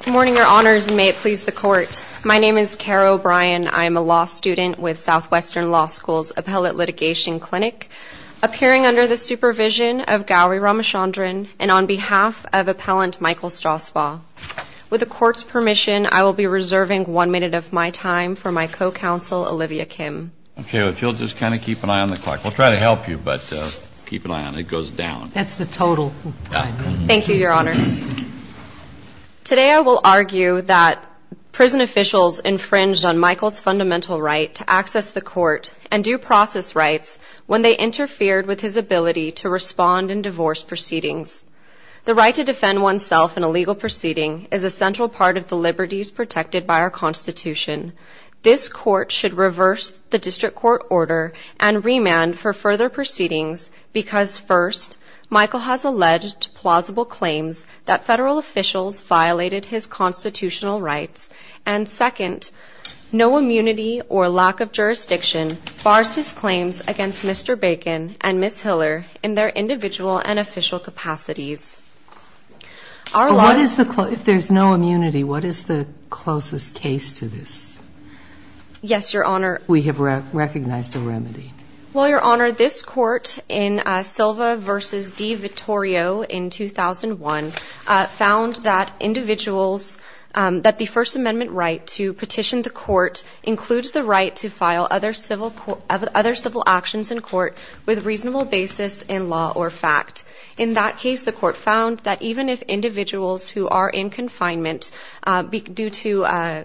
Good morning, your honors, and may it please the court. My name is Kara O'Brien. I'm a law student with Southwestern Law School's Appellate Litigation Clinic, appearing under the supervision of Gowri Ramachandran and on behalf of Appellant Michael Strausbaugh. With the court's permission, I will be reserving one minute of my time for my co-counsel Olivia Kim. Okay, if you'll just kind of keep an eye on the clock. We'll try to help you, but keep an eye on it. It goes down. That's the total. Thank you, your honor. Today, I will argue that prison officials infringed on Michael's fundamental right to access the court and due process rights when they interfered with his ability to respond in divorce proceedings. The right to defend oneself in a legal proceeding is a central part of the liberties protected by our Constitution. This court should reverse the district court order and remand for further proceedings because first, Michael has alleged plausible claims that federal officials violated his constitutional rights, and second, no immunity or lack of jurisdiction bars his claims against Mr. Bacon and Ms. Hiller in their individual and official capacities. If there's no immunity, what is the closest case to this? Yes, your honor. We have recognized a remedy. Well, your honor, this court in Silva v. D. Vittorio in 2001 found that individuals, that the First Amendment right to petition the court includes the right to file other civil actions in court with reasonable basis in law or fact. In that case, the court found that the even if individuals who are in confinement due to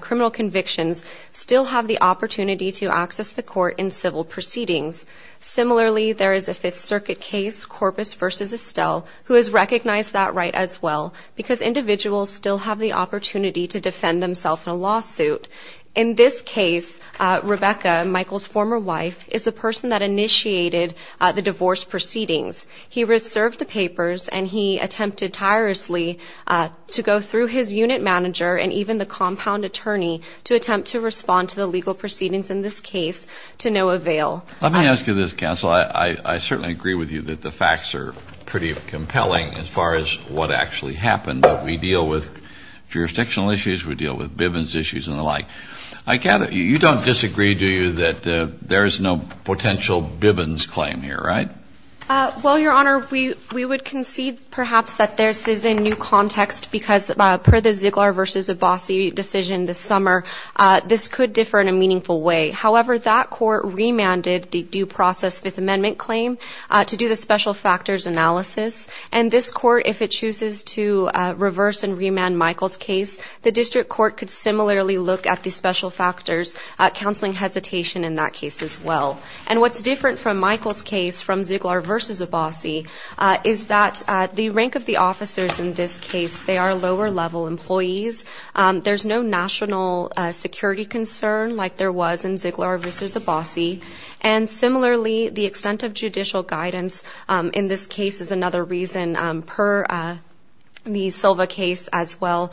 criminal convictions still have the opportunity to access the court in civil proceedings. Similarly, there is a Fifth Circuit case, Corpus v. Estelle, who has recognized that right as well because individuals still have the opportunity to defend themselves in a lawsuit. In this case, Rebecca, Michael's former wife, is the person that he attempted tirelessly to go through his unit manager and even the compound attorney to attempt to respond to the legal proceedings in this case to no avail. Let me ask you this, counsel. I certainly agree with you that the facts are pretty compelling as far as what actually happened, but we deal with jurisdictional issues, we deal with Bivens issues and the like. I gather you don't disagree, do you, that there is no potential Bivens claim here, right? Well, Your Honor, we would concede perhaps that there is a new context because per the Ziegler v. Abbasi decision this summer, this could differ in a meaningful way. However, that court remanded the due process Fifth Amendment claim to do the special factors analysis. And this court, if it chooses to reverse and remand Michael's case, the district court could similarly look at the special factors, counseling hesitation in that case as well. And what's different from Michael's case from Ziegler v. Abbasi is that the rank of the officers in this case, they are lower level employees. There's no national security concern like there was in Ziegler v. Abbasi. And similarly, the extent of judicial guidance in this case is another reason per the Silva case as well,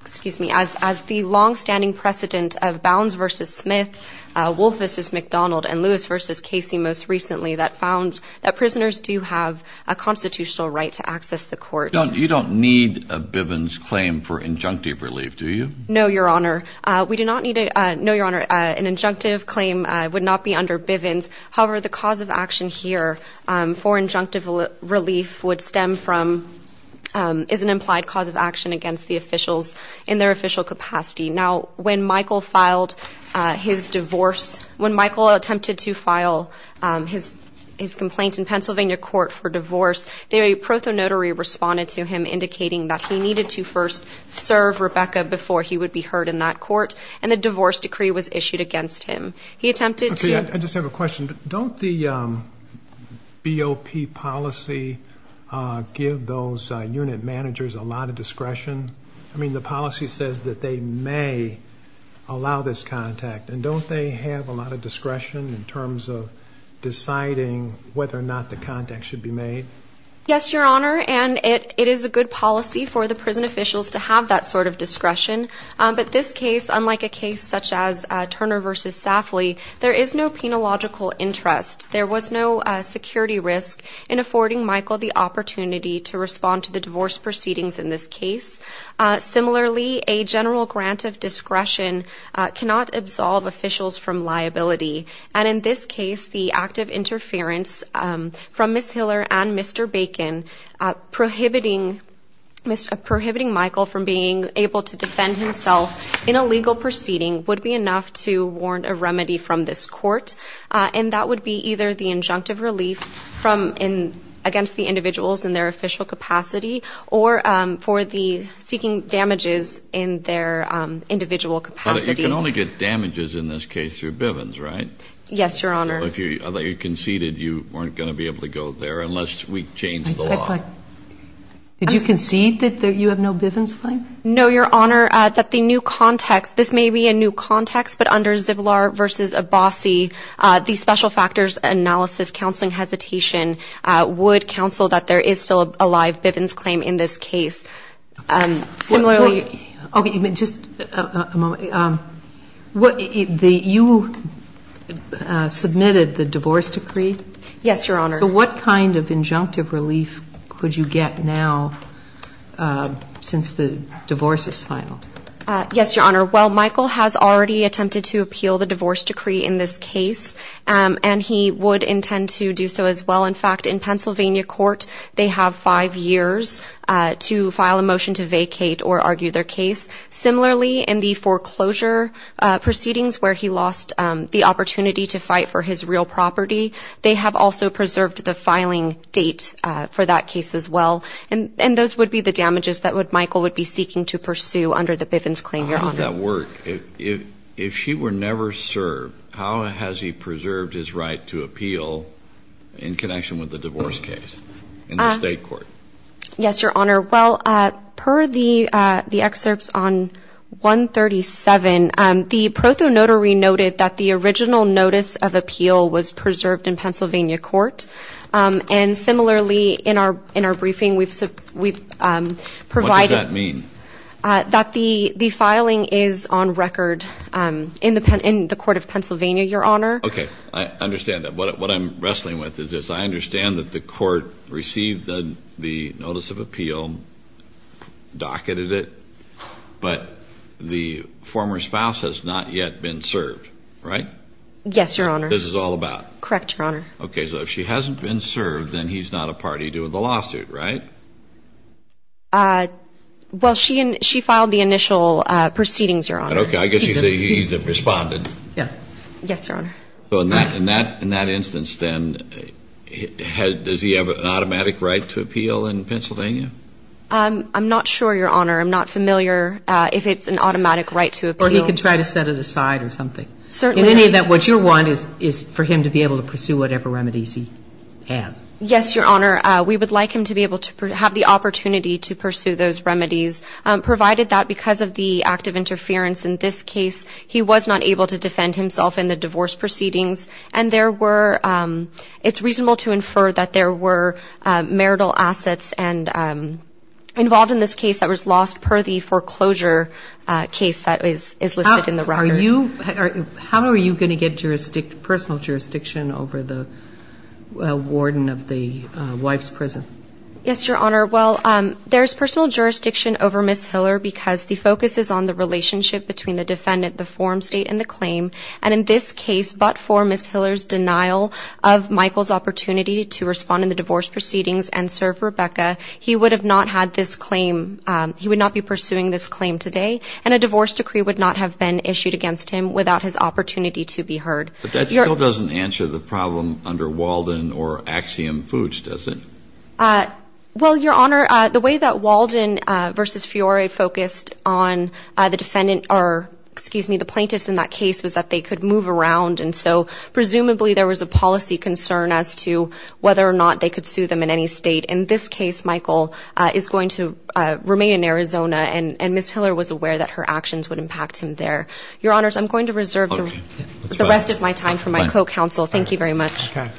excuse me, as the longstanding precedent of Bounds v. Smith, Wolfe v. McDonald, and Lewis v. Casey most recently that found that prisoners do have a constitutional right to access the court. You don't need a Bivens claim for injunctive relief, do you? No, Your Honor. We do not need it. No, Your Honor, an injunctive claim would not be under Bivens. However, the cause of action here for when Michael filed his divorce, when Michael attempted to file his complaint in Pennsylvania court for divorce, the prothonotary responded to him indicating that he needed to first serve Rebecca before he would be heard in that court, and a divorce decree was issued against him. He attempted to Okay, I just have a question. Don't the BOP policy give those unit managers a lot of discretion? I mean, the policy says that they may allow this contact, and don't they have a lot of discretion in terms of deciding whether or not the contact should be made? Yes, Your Honor, and it is a good policy for the prison officials to have that sort of discretion. But this case, unlike a case such as Turner v. Safley, there is no penological interest. There was no security risk in affording Michael the opportunity to respond to the divorce proceedings in this case, the act of interference from Ms. Hiller and Mr. Bacon prohibiting Michael from being able to defend himself in a legal proceeding would be enough to warrant a remedy from this court, and that would be either the injunctive relief against the individuals in their official capacity or for the seeking damages in their individual capacity. But you can only get damages in this case through Bivens, right? Yes, Your Honor. Although you conceded you weren't going to be able to go there unless we change the law. Did you concede that you have no Bivens claim? No, Your Honor, that the new context, this may be a new context, but under Zivlar v. Abbasi, the special factors analysis counseling hesitation would suggest to counsel that there is still a live Bivens claim in this case. Okay, just a moment. You submitted the divorce decree? Yes, Your Honor. So what kind of injunctive relief could you get now since the divorce is final? Yes, Your Honor. Well, Michael has already attempted to appeal the divorce decree in this case, and he would intend to do so as well. In fact, in Pennsylvania court, they have five years to file a motion to vacate or argue their case. Similarly, in the foreclosure proceedings where he lost the opportunity to fight for his real property, they have also preserved the filing date for that case as well. And those would be the damages that Michael would be seeking to pursue under the Bivens claim, Your Honor. How does that work? If she were never served, how has he preserved his right to appeal in connection with the divorce case in the state court? Yes, Your Honor. Well, per the excerpts on 137, the proto-notary noted that the original notice of appeal was preserved in Pennsylvania court. And similarly, in our briefing, we've provided. What does that mean? That the filing is on record in the court of Pennsylvania, Your Honor. Okay, I understand that. What I'm wrestling with is this. I understand that the court received the notice of appeal, docketed it, but the former spouse has not yet been served, right? Yes, Your Honor. This is all about. Correct, Your Honor. Okay, so if she hasn't been served, then he's not a party to the lawsuit, right? Well, she filed the initial proceedings, Your Honor. Okay, I guess you say he's a respondent. Yes, Your Honor. So in that instance, then, does he have an automatic right to appeal in Pennsylvania? I'm not sure, Your Honor. I'm not familiar if it's an automatic right to appeal. Or he could try to set it aside or something. Certainly. In any event, what you want is for him to be able to pursue whatever remedies he has. Yes, Your Honor. We would like him to be able to have the opportunity to pursue those remedies, provided that because of the active interference in this case, he was not able to defend himself in the divorce proceedings. And there were, it's reasonable to infer that there were marital assets involved in this case that was lost per the foreclosure case that is listed in the record. How are you going to get personal jurisdiction over the warden of the wife's prison? Yes, Your Honor. Well, there's personal jurisdiction over Ms. Hiller because the focus is on the relationship between the defendant, the form, state, and the claim. And in this case, but for Ms. Hiller's denial of Michael's opportunity to respond in the divorce proceedings and serve Rebecca, he would have not had this claim, he would not be pursuing this claim today, and a divorce decree would not have been issued against him without his opportunity to be heard. But that still doesn't answer the problem under Walden or Axiom Foods, does it? Well, Your Honor, the way that Walden versus Fiore focused on the defendant or, excuse me, the plaintiffs in that case was that they could move around, and so presumably there was a policy concern as to whether or not they could sue them in any state. In this case, Michael is going to remain in Arizona, and Ms. Hiller was aware that her actions would impact him there. Your Honors, I'm going to reserve the rest of my time for my co-counsel. Thank you very much. Good morning.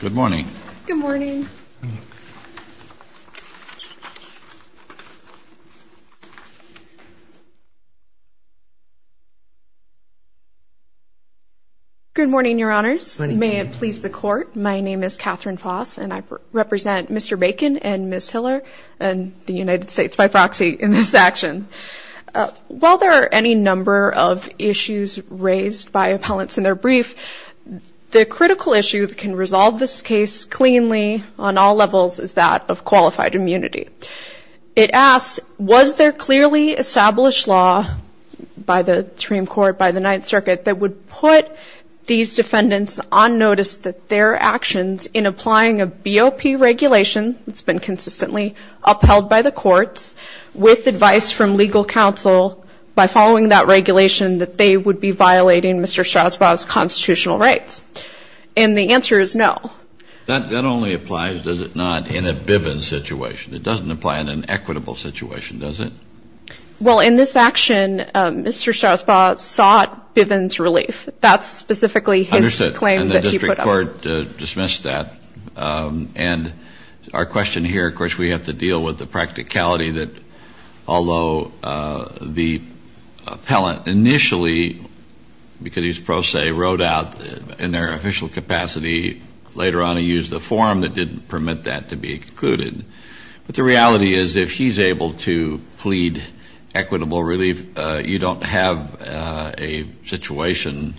Good morning. Good morning, Your Honors. Good morning. May it please the Court, my name is Catherine Foss, and I represent Mr. Bacon and Ms. Hiller and the United States by proxy in this action. While there are any number of issues raised by appellants in their brief, the critical issue that can resolve this case cleanly on all levels is that of qualified immunity. It asks, was there clearly established law by the Supreme Court, by the Ninth Circuit, that would put these defendants on notice that their actions in applying a BOP regulation, it's been consistently upheld by the courts, with advice from legal counsel, by following that regulation that they would be violating Mr. Stroudsbaugh's constitutional rights? And the answer is no. That only applies, does it not, in a Bivens situation. It doesn't apply in an equitable situation, does it? Well, in this action, Mr. Stroudsbaugh sought Bivens relief. That's specifically his claim that he put up. Understood. And the district court dismissed that. And our question here, of course, we have to deal with the practicality that, although the appellant initially, because he's pro se, wrote out in their official capacity, later on he used a form that didn't permit that to be included. But the reality is if he's able to plead equitable relief, you don't have a situation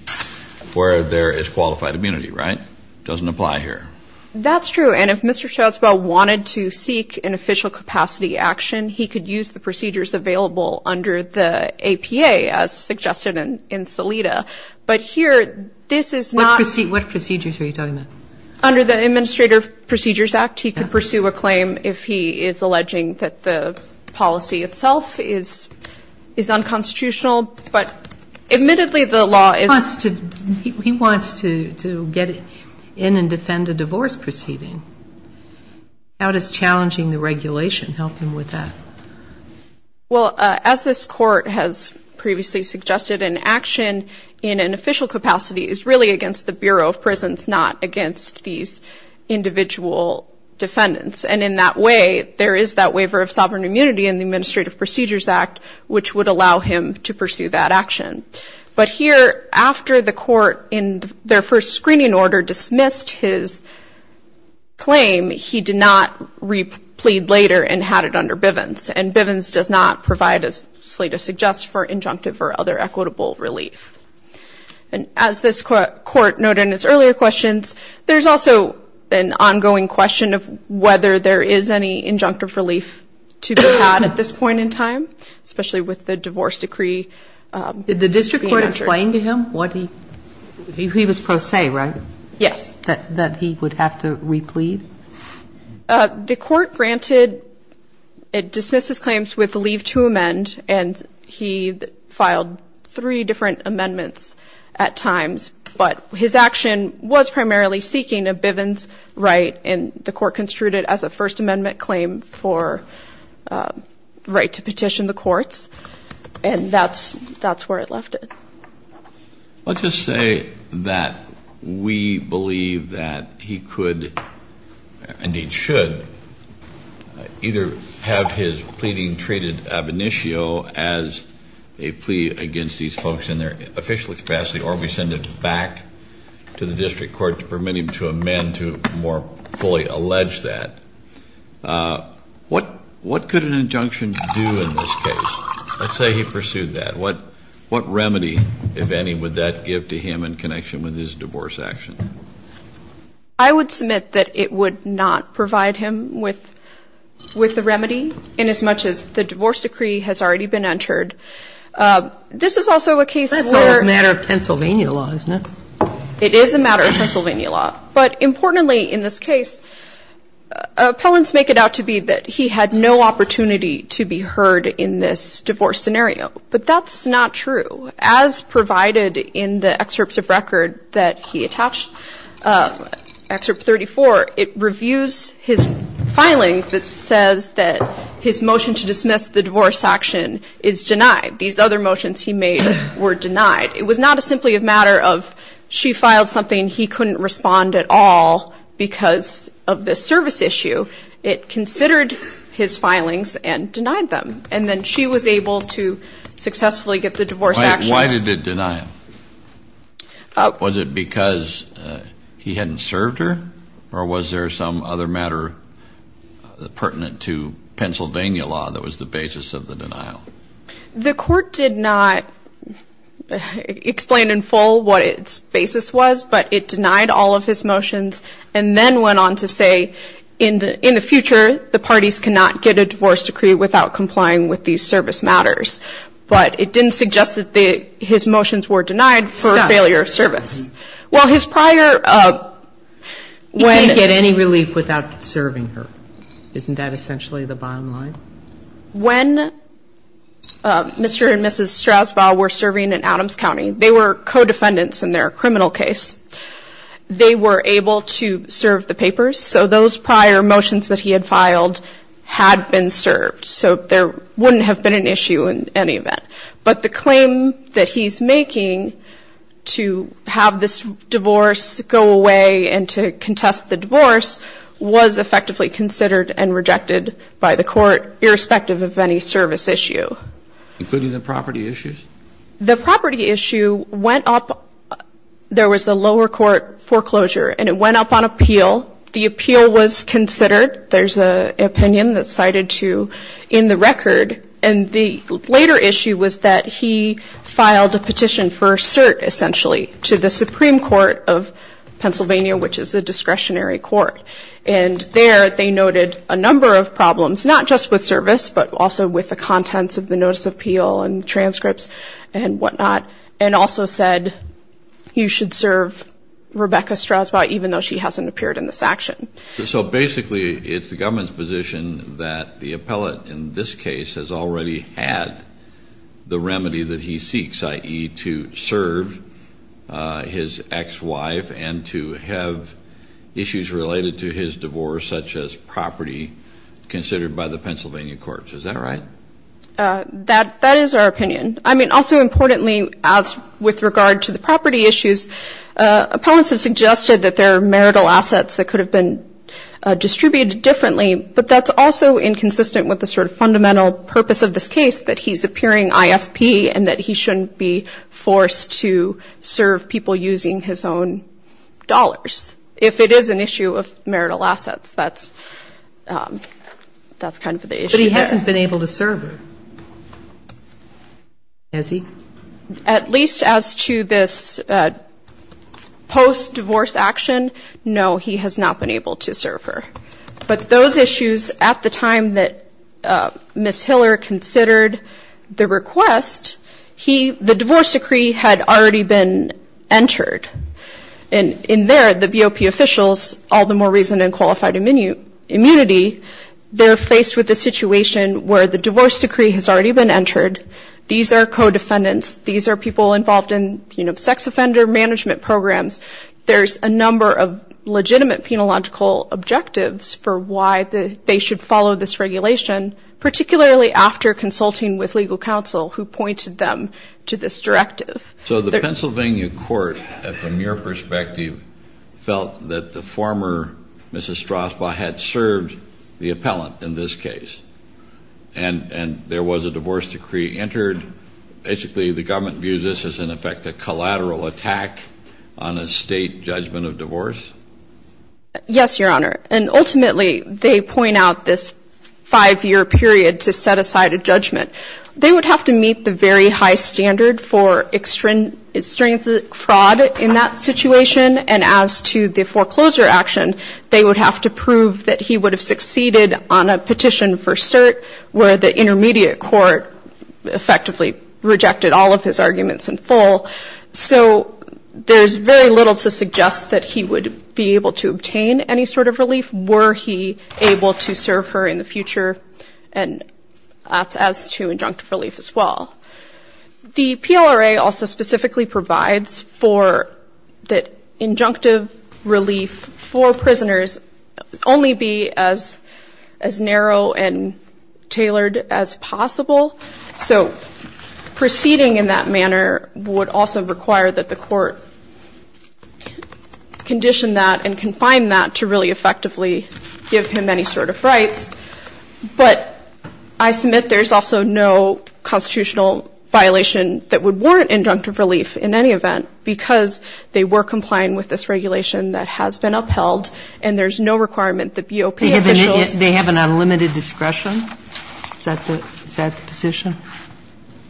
where there is qualified immunity, right? It doesn't apply here. That's true. And if Mr. Stroudsbaugh wanted to seek an official capacity action, he could use the procedures available under the APA, as suggested in Salida. But here, this is not What procedures are you talking about? Under the Administrative Procedures Act, he could pursue a claim if he is alleging that the policy itself is unconstitutional. But admittedly, the law is He wants to get in and defend a divorce proceeding. How does challenging the regulation help him with that? Well, as this court has previously suggested, an action in an official capacity is really against the Bureau of Prisons, not against these individual defendants. And in that way, there is that waiver of sovereign immunity in the Administrative Procedures Act, which would allow him to pursue that action. But here, after the court, in their first screening order, dismissed his claim, he did not replead later and had it under Bivens. And Bivens does not provide, as Salida suggests, for injunctive or other equitable relief. And as this court noted in its earlier questions, there's also an ongoing question of whether there is any injunctive relief to be had at this point in time, especially with the divorce decree. Did the district court explain to him what he he was pro se, right? Yes. That he would have to replead? The court granted, it dismissed his claims with the leave to amend, and he filed three different amendments at times. But his action was primarily seeking a Bivens right, and the court construed it as a First Amendment claim for right to petition the courts. And that's where it left it. Let's just say that we believe that he could, indeed should, either have his pleading treated ab initio as a plea against these folks in their official capacity or we send it back to the district court to permit him to amend to more fully allege that. What could an injunction do in this case? Let's say he pursued that. What remedy, if any, would that give to him in connection with his divorce action? I would submit that it would not provide him with the remedy inasmuch as the divorce decree has already been entered. This is also a case where That's all a matter of Pennsylvania law, isn't it? It is a matter of Pennsylvania law. But importantly in this case, appellants make it out to be that he had no opportunity to be heard in this divorce scenario. But that's not true. As provided in the excerpts of record that he attached, Excerpt 34, it reviews his filing that says that his motion to dismiss the divorce action is denied. These other motions he made were denied. It was not simply a matter of she filed something, he couldn't respond at all because of this service issue. It considered his filings and denied them. And then she was able to successfully get the divorce action. Why did it deny him? Was it because he hadn't served her? Or was there some other matter pertinent to Pennsylvania law that was the basis of the denial? The court did not explain in full what its basis was, but it denied all of his motions and then went on to say in the future the parties cannot get a divorce decree without complying with these service matters. But it didn't suggest that his motions were denied for failure of service. Well, his prior when He can't get any relief without serving her. Isn't that essentially the bottom line? When Mr. and Mrs. Strasbaugh were serving in Adams County, they were co-defendants in their criminal case. They were able to serve the papers. So those prior motions that he had filed had been served. So there wouldn't have been an issue in any event. But the claim that he's making to have this divorce go away and to contest the divorce was effectively considered and rejected by the court, irrespective of any service issue. Including the property issues? The property issue went up. There was a lower court foreclosure, and it went up on appeal. The appeal was considered. There's an opinion that's cited in the record. And the later issue was that he filed a petition for cert, essentially, to the Supreme Court of Pennsylvania, which is a discretionary court. And there they noted a number of problems, not just with service, but also with the contents of the notice of appeal and transcripts and whatnot, and also said you should serve Rebecca Strasbaugh, even though she hasn't appeared in this action. So basically, it's the government's position that the appellate in this case has already had the remedy that he seeks, i.e., to serve his ex-wife and to have issues related to his divorce, such as property, considered by the Pennsylvania courts. Is that right? That is our opinion. I mean, also importantly, as with regard to the property issues, appellants have suggested that there are marital assets that could have been distributed differently, but that's also inconsistent with the sort of fundamental purpose of this case, that he's appearing IFP and that he shouldn't be forced to serve people using his own dollars. If it is an issue of marital assets, that's kind of the issue there. But he hasn't been able to serve her, has he? At least as to this post-divorce action, no, he has not been able to serve her. But those issues at the time that Ms. Hiller considered the request, the divorce decree had already been entered. And in there, the BOP officials, all the more reason than qualified immunity, they're faced with a situation where the divorce decree has already been entered. These are co-defendants. These are people involved in sex offender management programs. There's a number of legitimate penological objectives for why they should follow this regulation, particularly after consulting with legal counsel who pointed them to this directive. So the Pennsylvania court, from your perspective, felt that the former Mrs. Strasbaugh had served the appellant in this case, and there was a divorce decree entered. Basically, the government views this as, in effect, a collateral attack on a state judgment of divorce? Yes, Your Honor. And ultimately, they point out this five-year period to set aside a judgment. They would have to meet the very high standard for extrinsic fraud in that situation. And as to the foreclosure action, they would have to prove that he would have succeeded on a petition for cert where the intermediate court effectively rejected all of his arguments in full. So there's very little to suggest that he would be able to obtain any sort of relief. Were he able to serve her in the future? And as to injunctive relief as well. The PLRA also specifically provides for that injunctive relief for prisoners only be as narrow and tailored as possible. So proceeding in that manner would also require that the court condition that and confine that to really effectively give him any sort of rights. But I submit there's also no constitutional violation that would warrant injunctive relief in any event because they were compliant with this regulation that has been upheld, and there's no requirement that BOP officials ---- They have an unlimited discretion? Is that the position?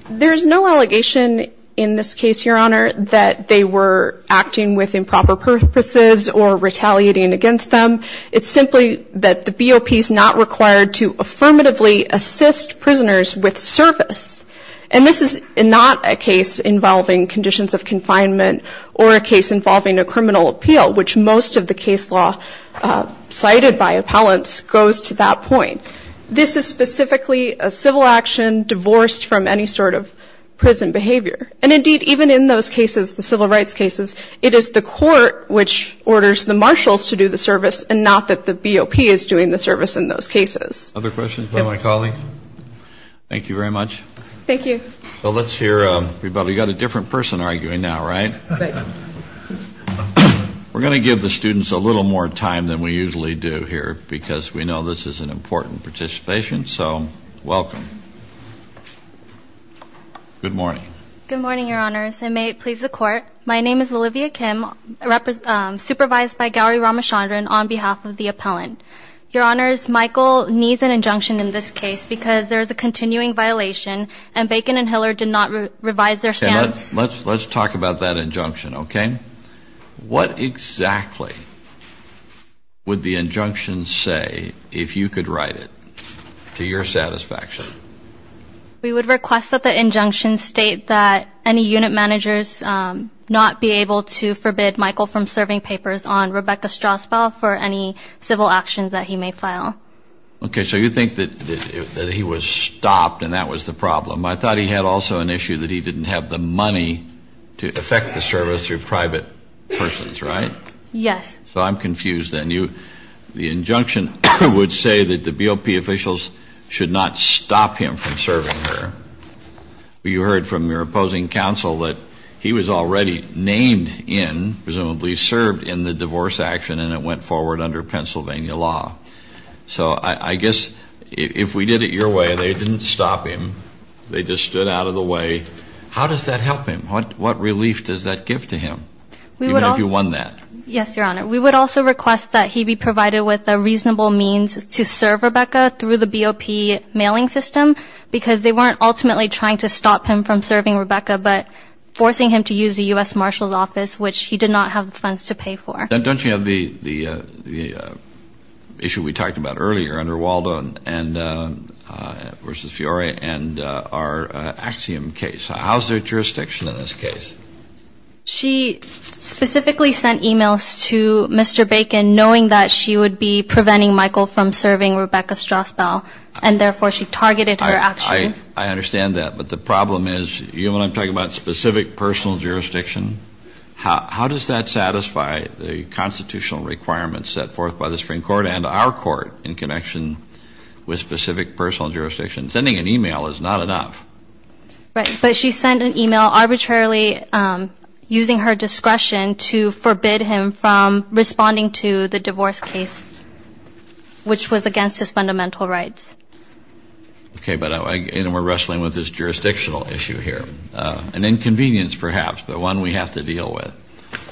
There's no allegation in this case, Your Honor, that they were acting with improper purposes or retaliating against them. It's simply that the BOP is not required to affirmatively assist prisoners with service. And this is not a case involving conditions of confinement or a case involving a criminal appeal, which most of the case law cited by appellants goes to that point. This is specifically a civil action divorced from any sort of prison behavior. And, indeed, even in those cases, the civil rights cases, it is the court which orders the marshals to do the service and not that the BOP is doing the service in those cases. Other questions by my colleague? Thank you very much. Thank you. Well, let's hear everybody. We've got a different person arguing now, right? We're going to give the students a little more time than we usually do here because we know this is an important participation, so welcome. Good morning. Good morning, Your Honors, and may it please the Court. My name is Olivia Kim, supervised by Gowri Ramachandran on behalf of the appellant. Your Honors, Michael needs an injunction in this case because there is a continuing violation and Bacon and Hiller did not revise their standards. Let's talk about that injunction, okay? What exactly would the injunction say, if you could write it, to your satisfaction? We would request that the injunction state that any unit managers not be able to forbid Michael from serving papers on Rebecca Strasbaugh for any civil actions that he may file. Okay, so you think that he was stopped and that was the problem. I thought he had also an issue that he didn't have the money to affect the service through private persons, right? Yes. So I'm confused then. The injunction would say that the BOP officials should not stop him from serving her. You heard from your opposing counsel that he was already named in, presumably served, in the divorce action and it went forward under Pennsylvania law. So I guess if we did it your way, they didn't stop him, they just stood out of the way. How does that help him? What relief does that give to him, even if you won that? Yes, Your Honor. We would also request that he be provided with a reasonable means to serve Rebecca through the BOP mailing system because they weren't ultimately trying to stop him from serving Rebecca but forcing him to use the U.S. Marshal's office, which he did not have the funds to pay for. Don't you have the issue we talked about earlier under Waldo versus Fiore and our Axiom case? How's their jurisdiction in this case? She specifically sent e-mails to Mr. Bacon knowing that she would be preventing Michael from serving Rebecca Strassbaum and therefore she targeted her actions. I understand that, but the problem is, you know what I'm talking about, specific personal jurisdiction? How does that satisfy the constitutional requirements set forth by the Supreme Court and our court in connection with specific personal jurisdiction? Sending an e-mail is not enough. Right, but she sent an e-mail arbitrarily using her discretion to forbid him from responding to the divorce case, which was against his fundamental rights. Okay, but we're wrestling with this jurisdictional issue here. An inconvenience, perhaps, but one we have to deal with.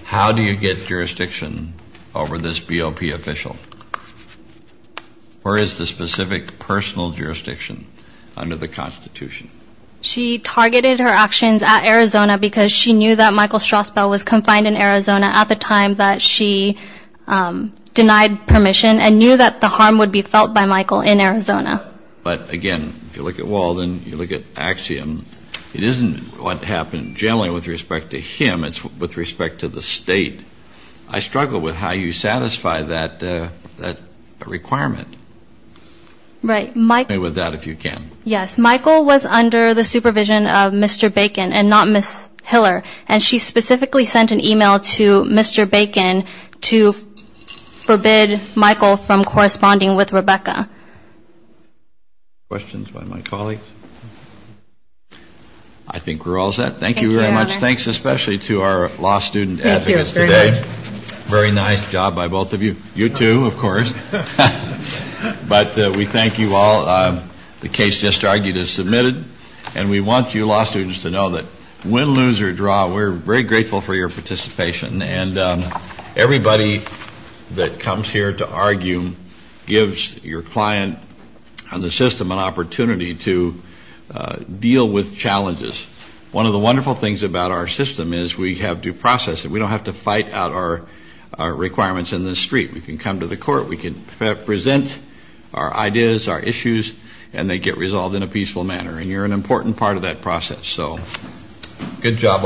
How do you get jurisdiction over this BOP official? Where is the specific personal jurisdiction under the Constitution? She targeted her actions at Arizona because she knew that Michael Strassbaum was confined in Arizona at the time that she denied permission and knew that the harm would be felt by Michael in Arizona. But, again, if you look at Walden, you look at Axiom, it isn't what happened generally with respect to him, it's with respect to the state. I struggle with how you satisfy that requirement. Right. Help me with that if you can. Yes. Michael was under the supervision of Mr. Bacon and not Ms. Hiller, and she specifically sent an e-mail to Mr. Bacon to forbid Michael from corresponding with Rebecca. Questions by my colleagues? I think we're all set. Thank you very much. Thank you, Your Honor. Thanks especially to our law student advocates today. Thank you very much. Very nice job by both of you. You too, of course. But we thank you all. The case just argued is submitted. And we want you law students to know that win, lose, or draw, we're very grateful for your participation. And everybody that comes here to argue gives your client and the system an opportunity to deal with challenges. One of the wonderful things about our system is we have due process. We don't have to fight out our requirements in the street. We can come to the court. We can present our ideas, our issues, and they get resolved in a peaceful manner. And you're an important part of that process. So good job all.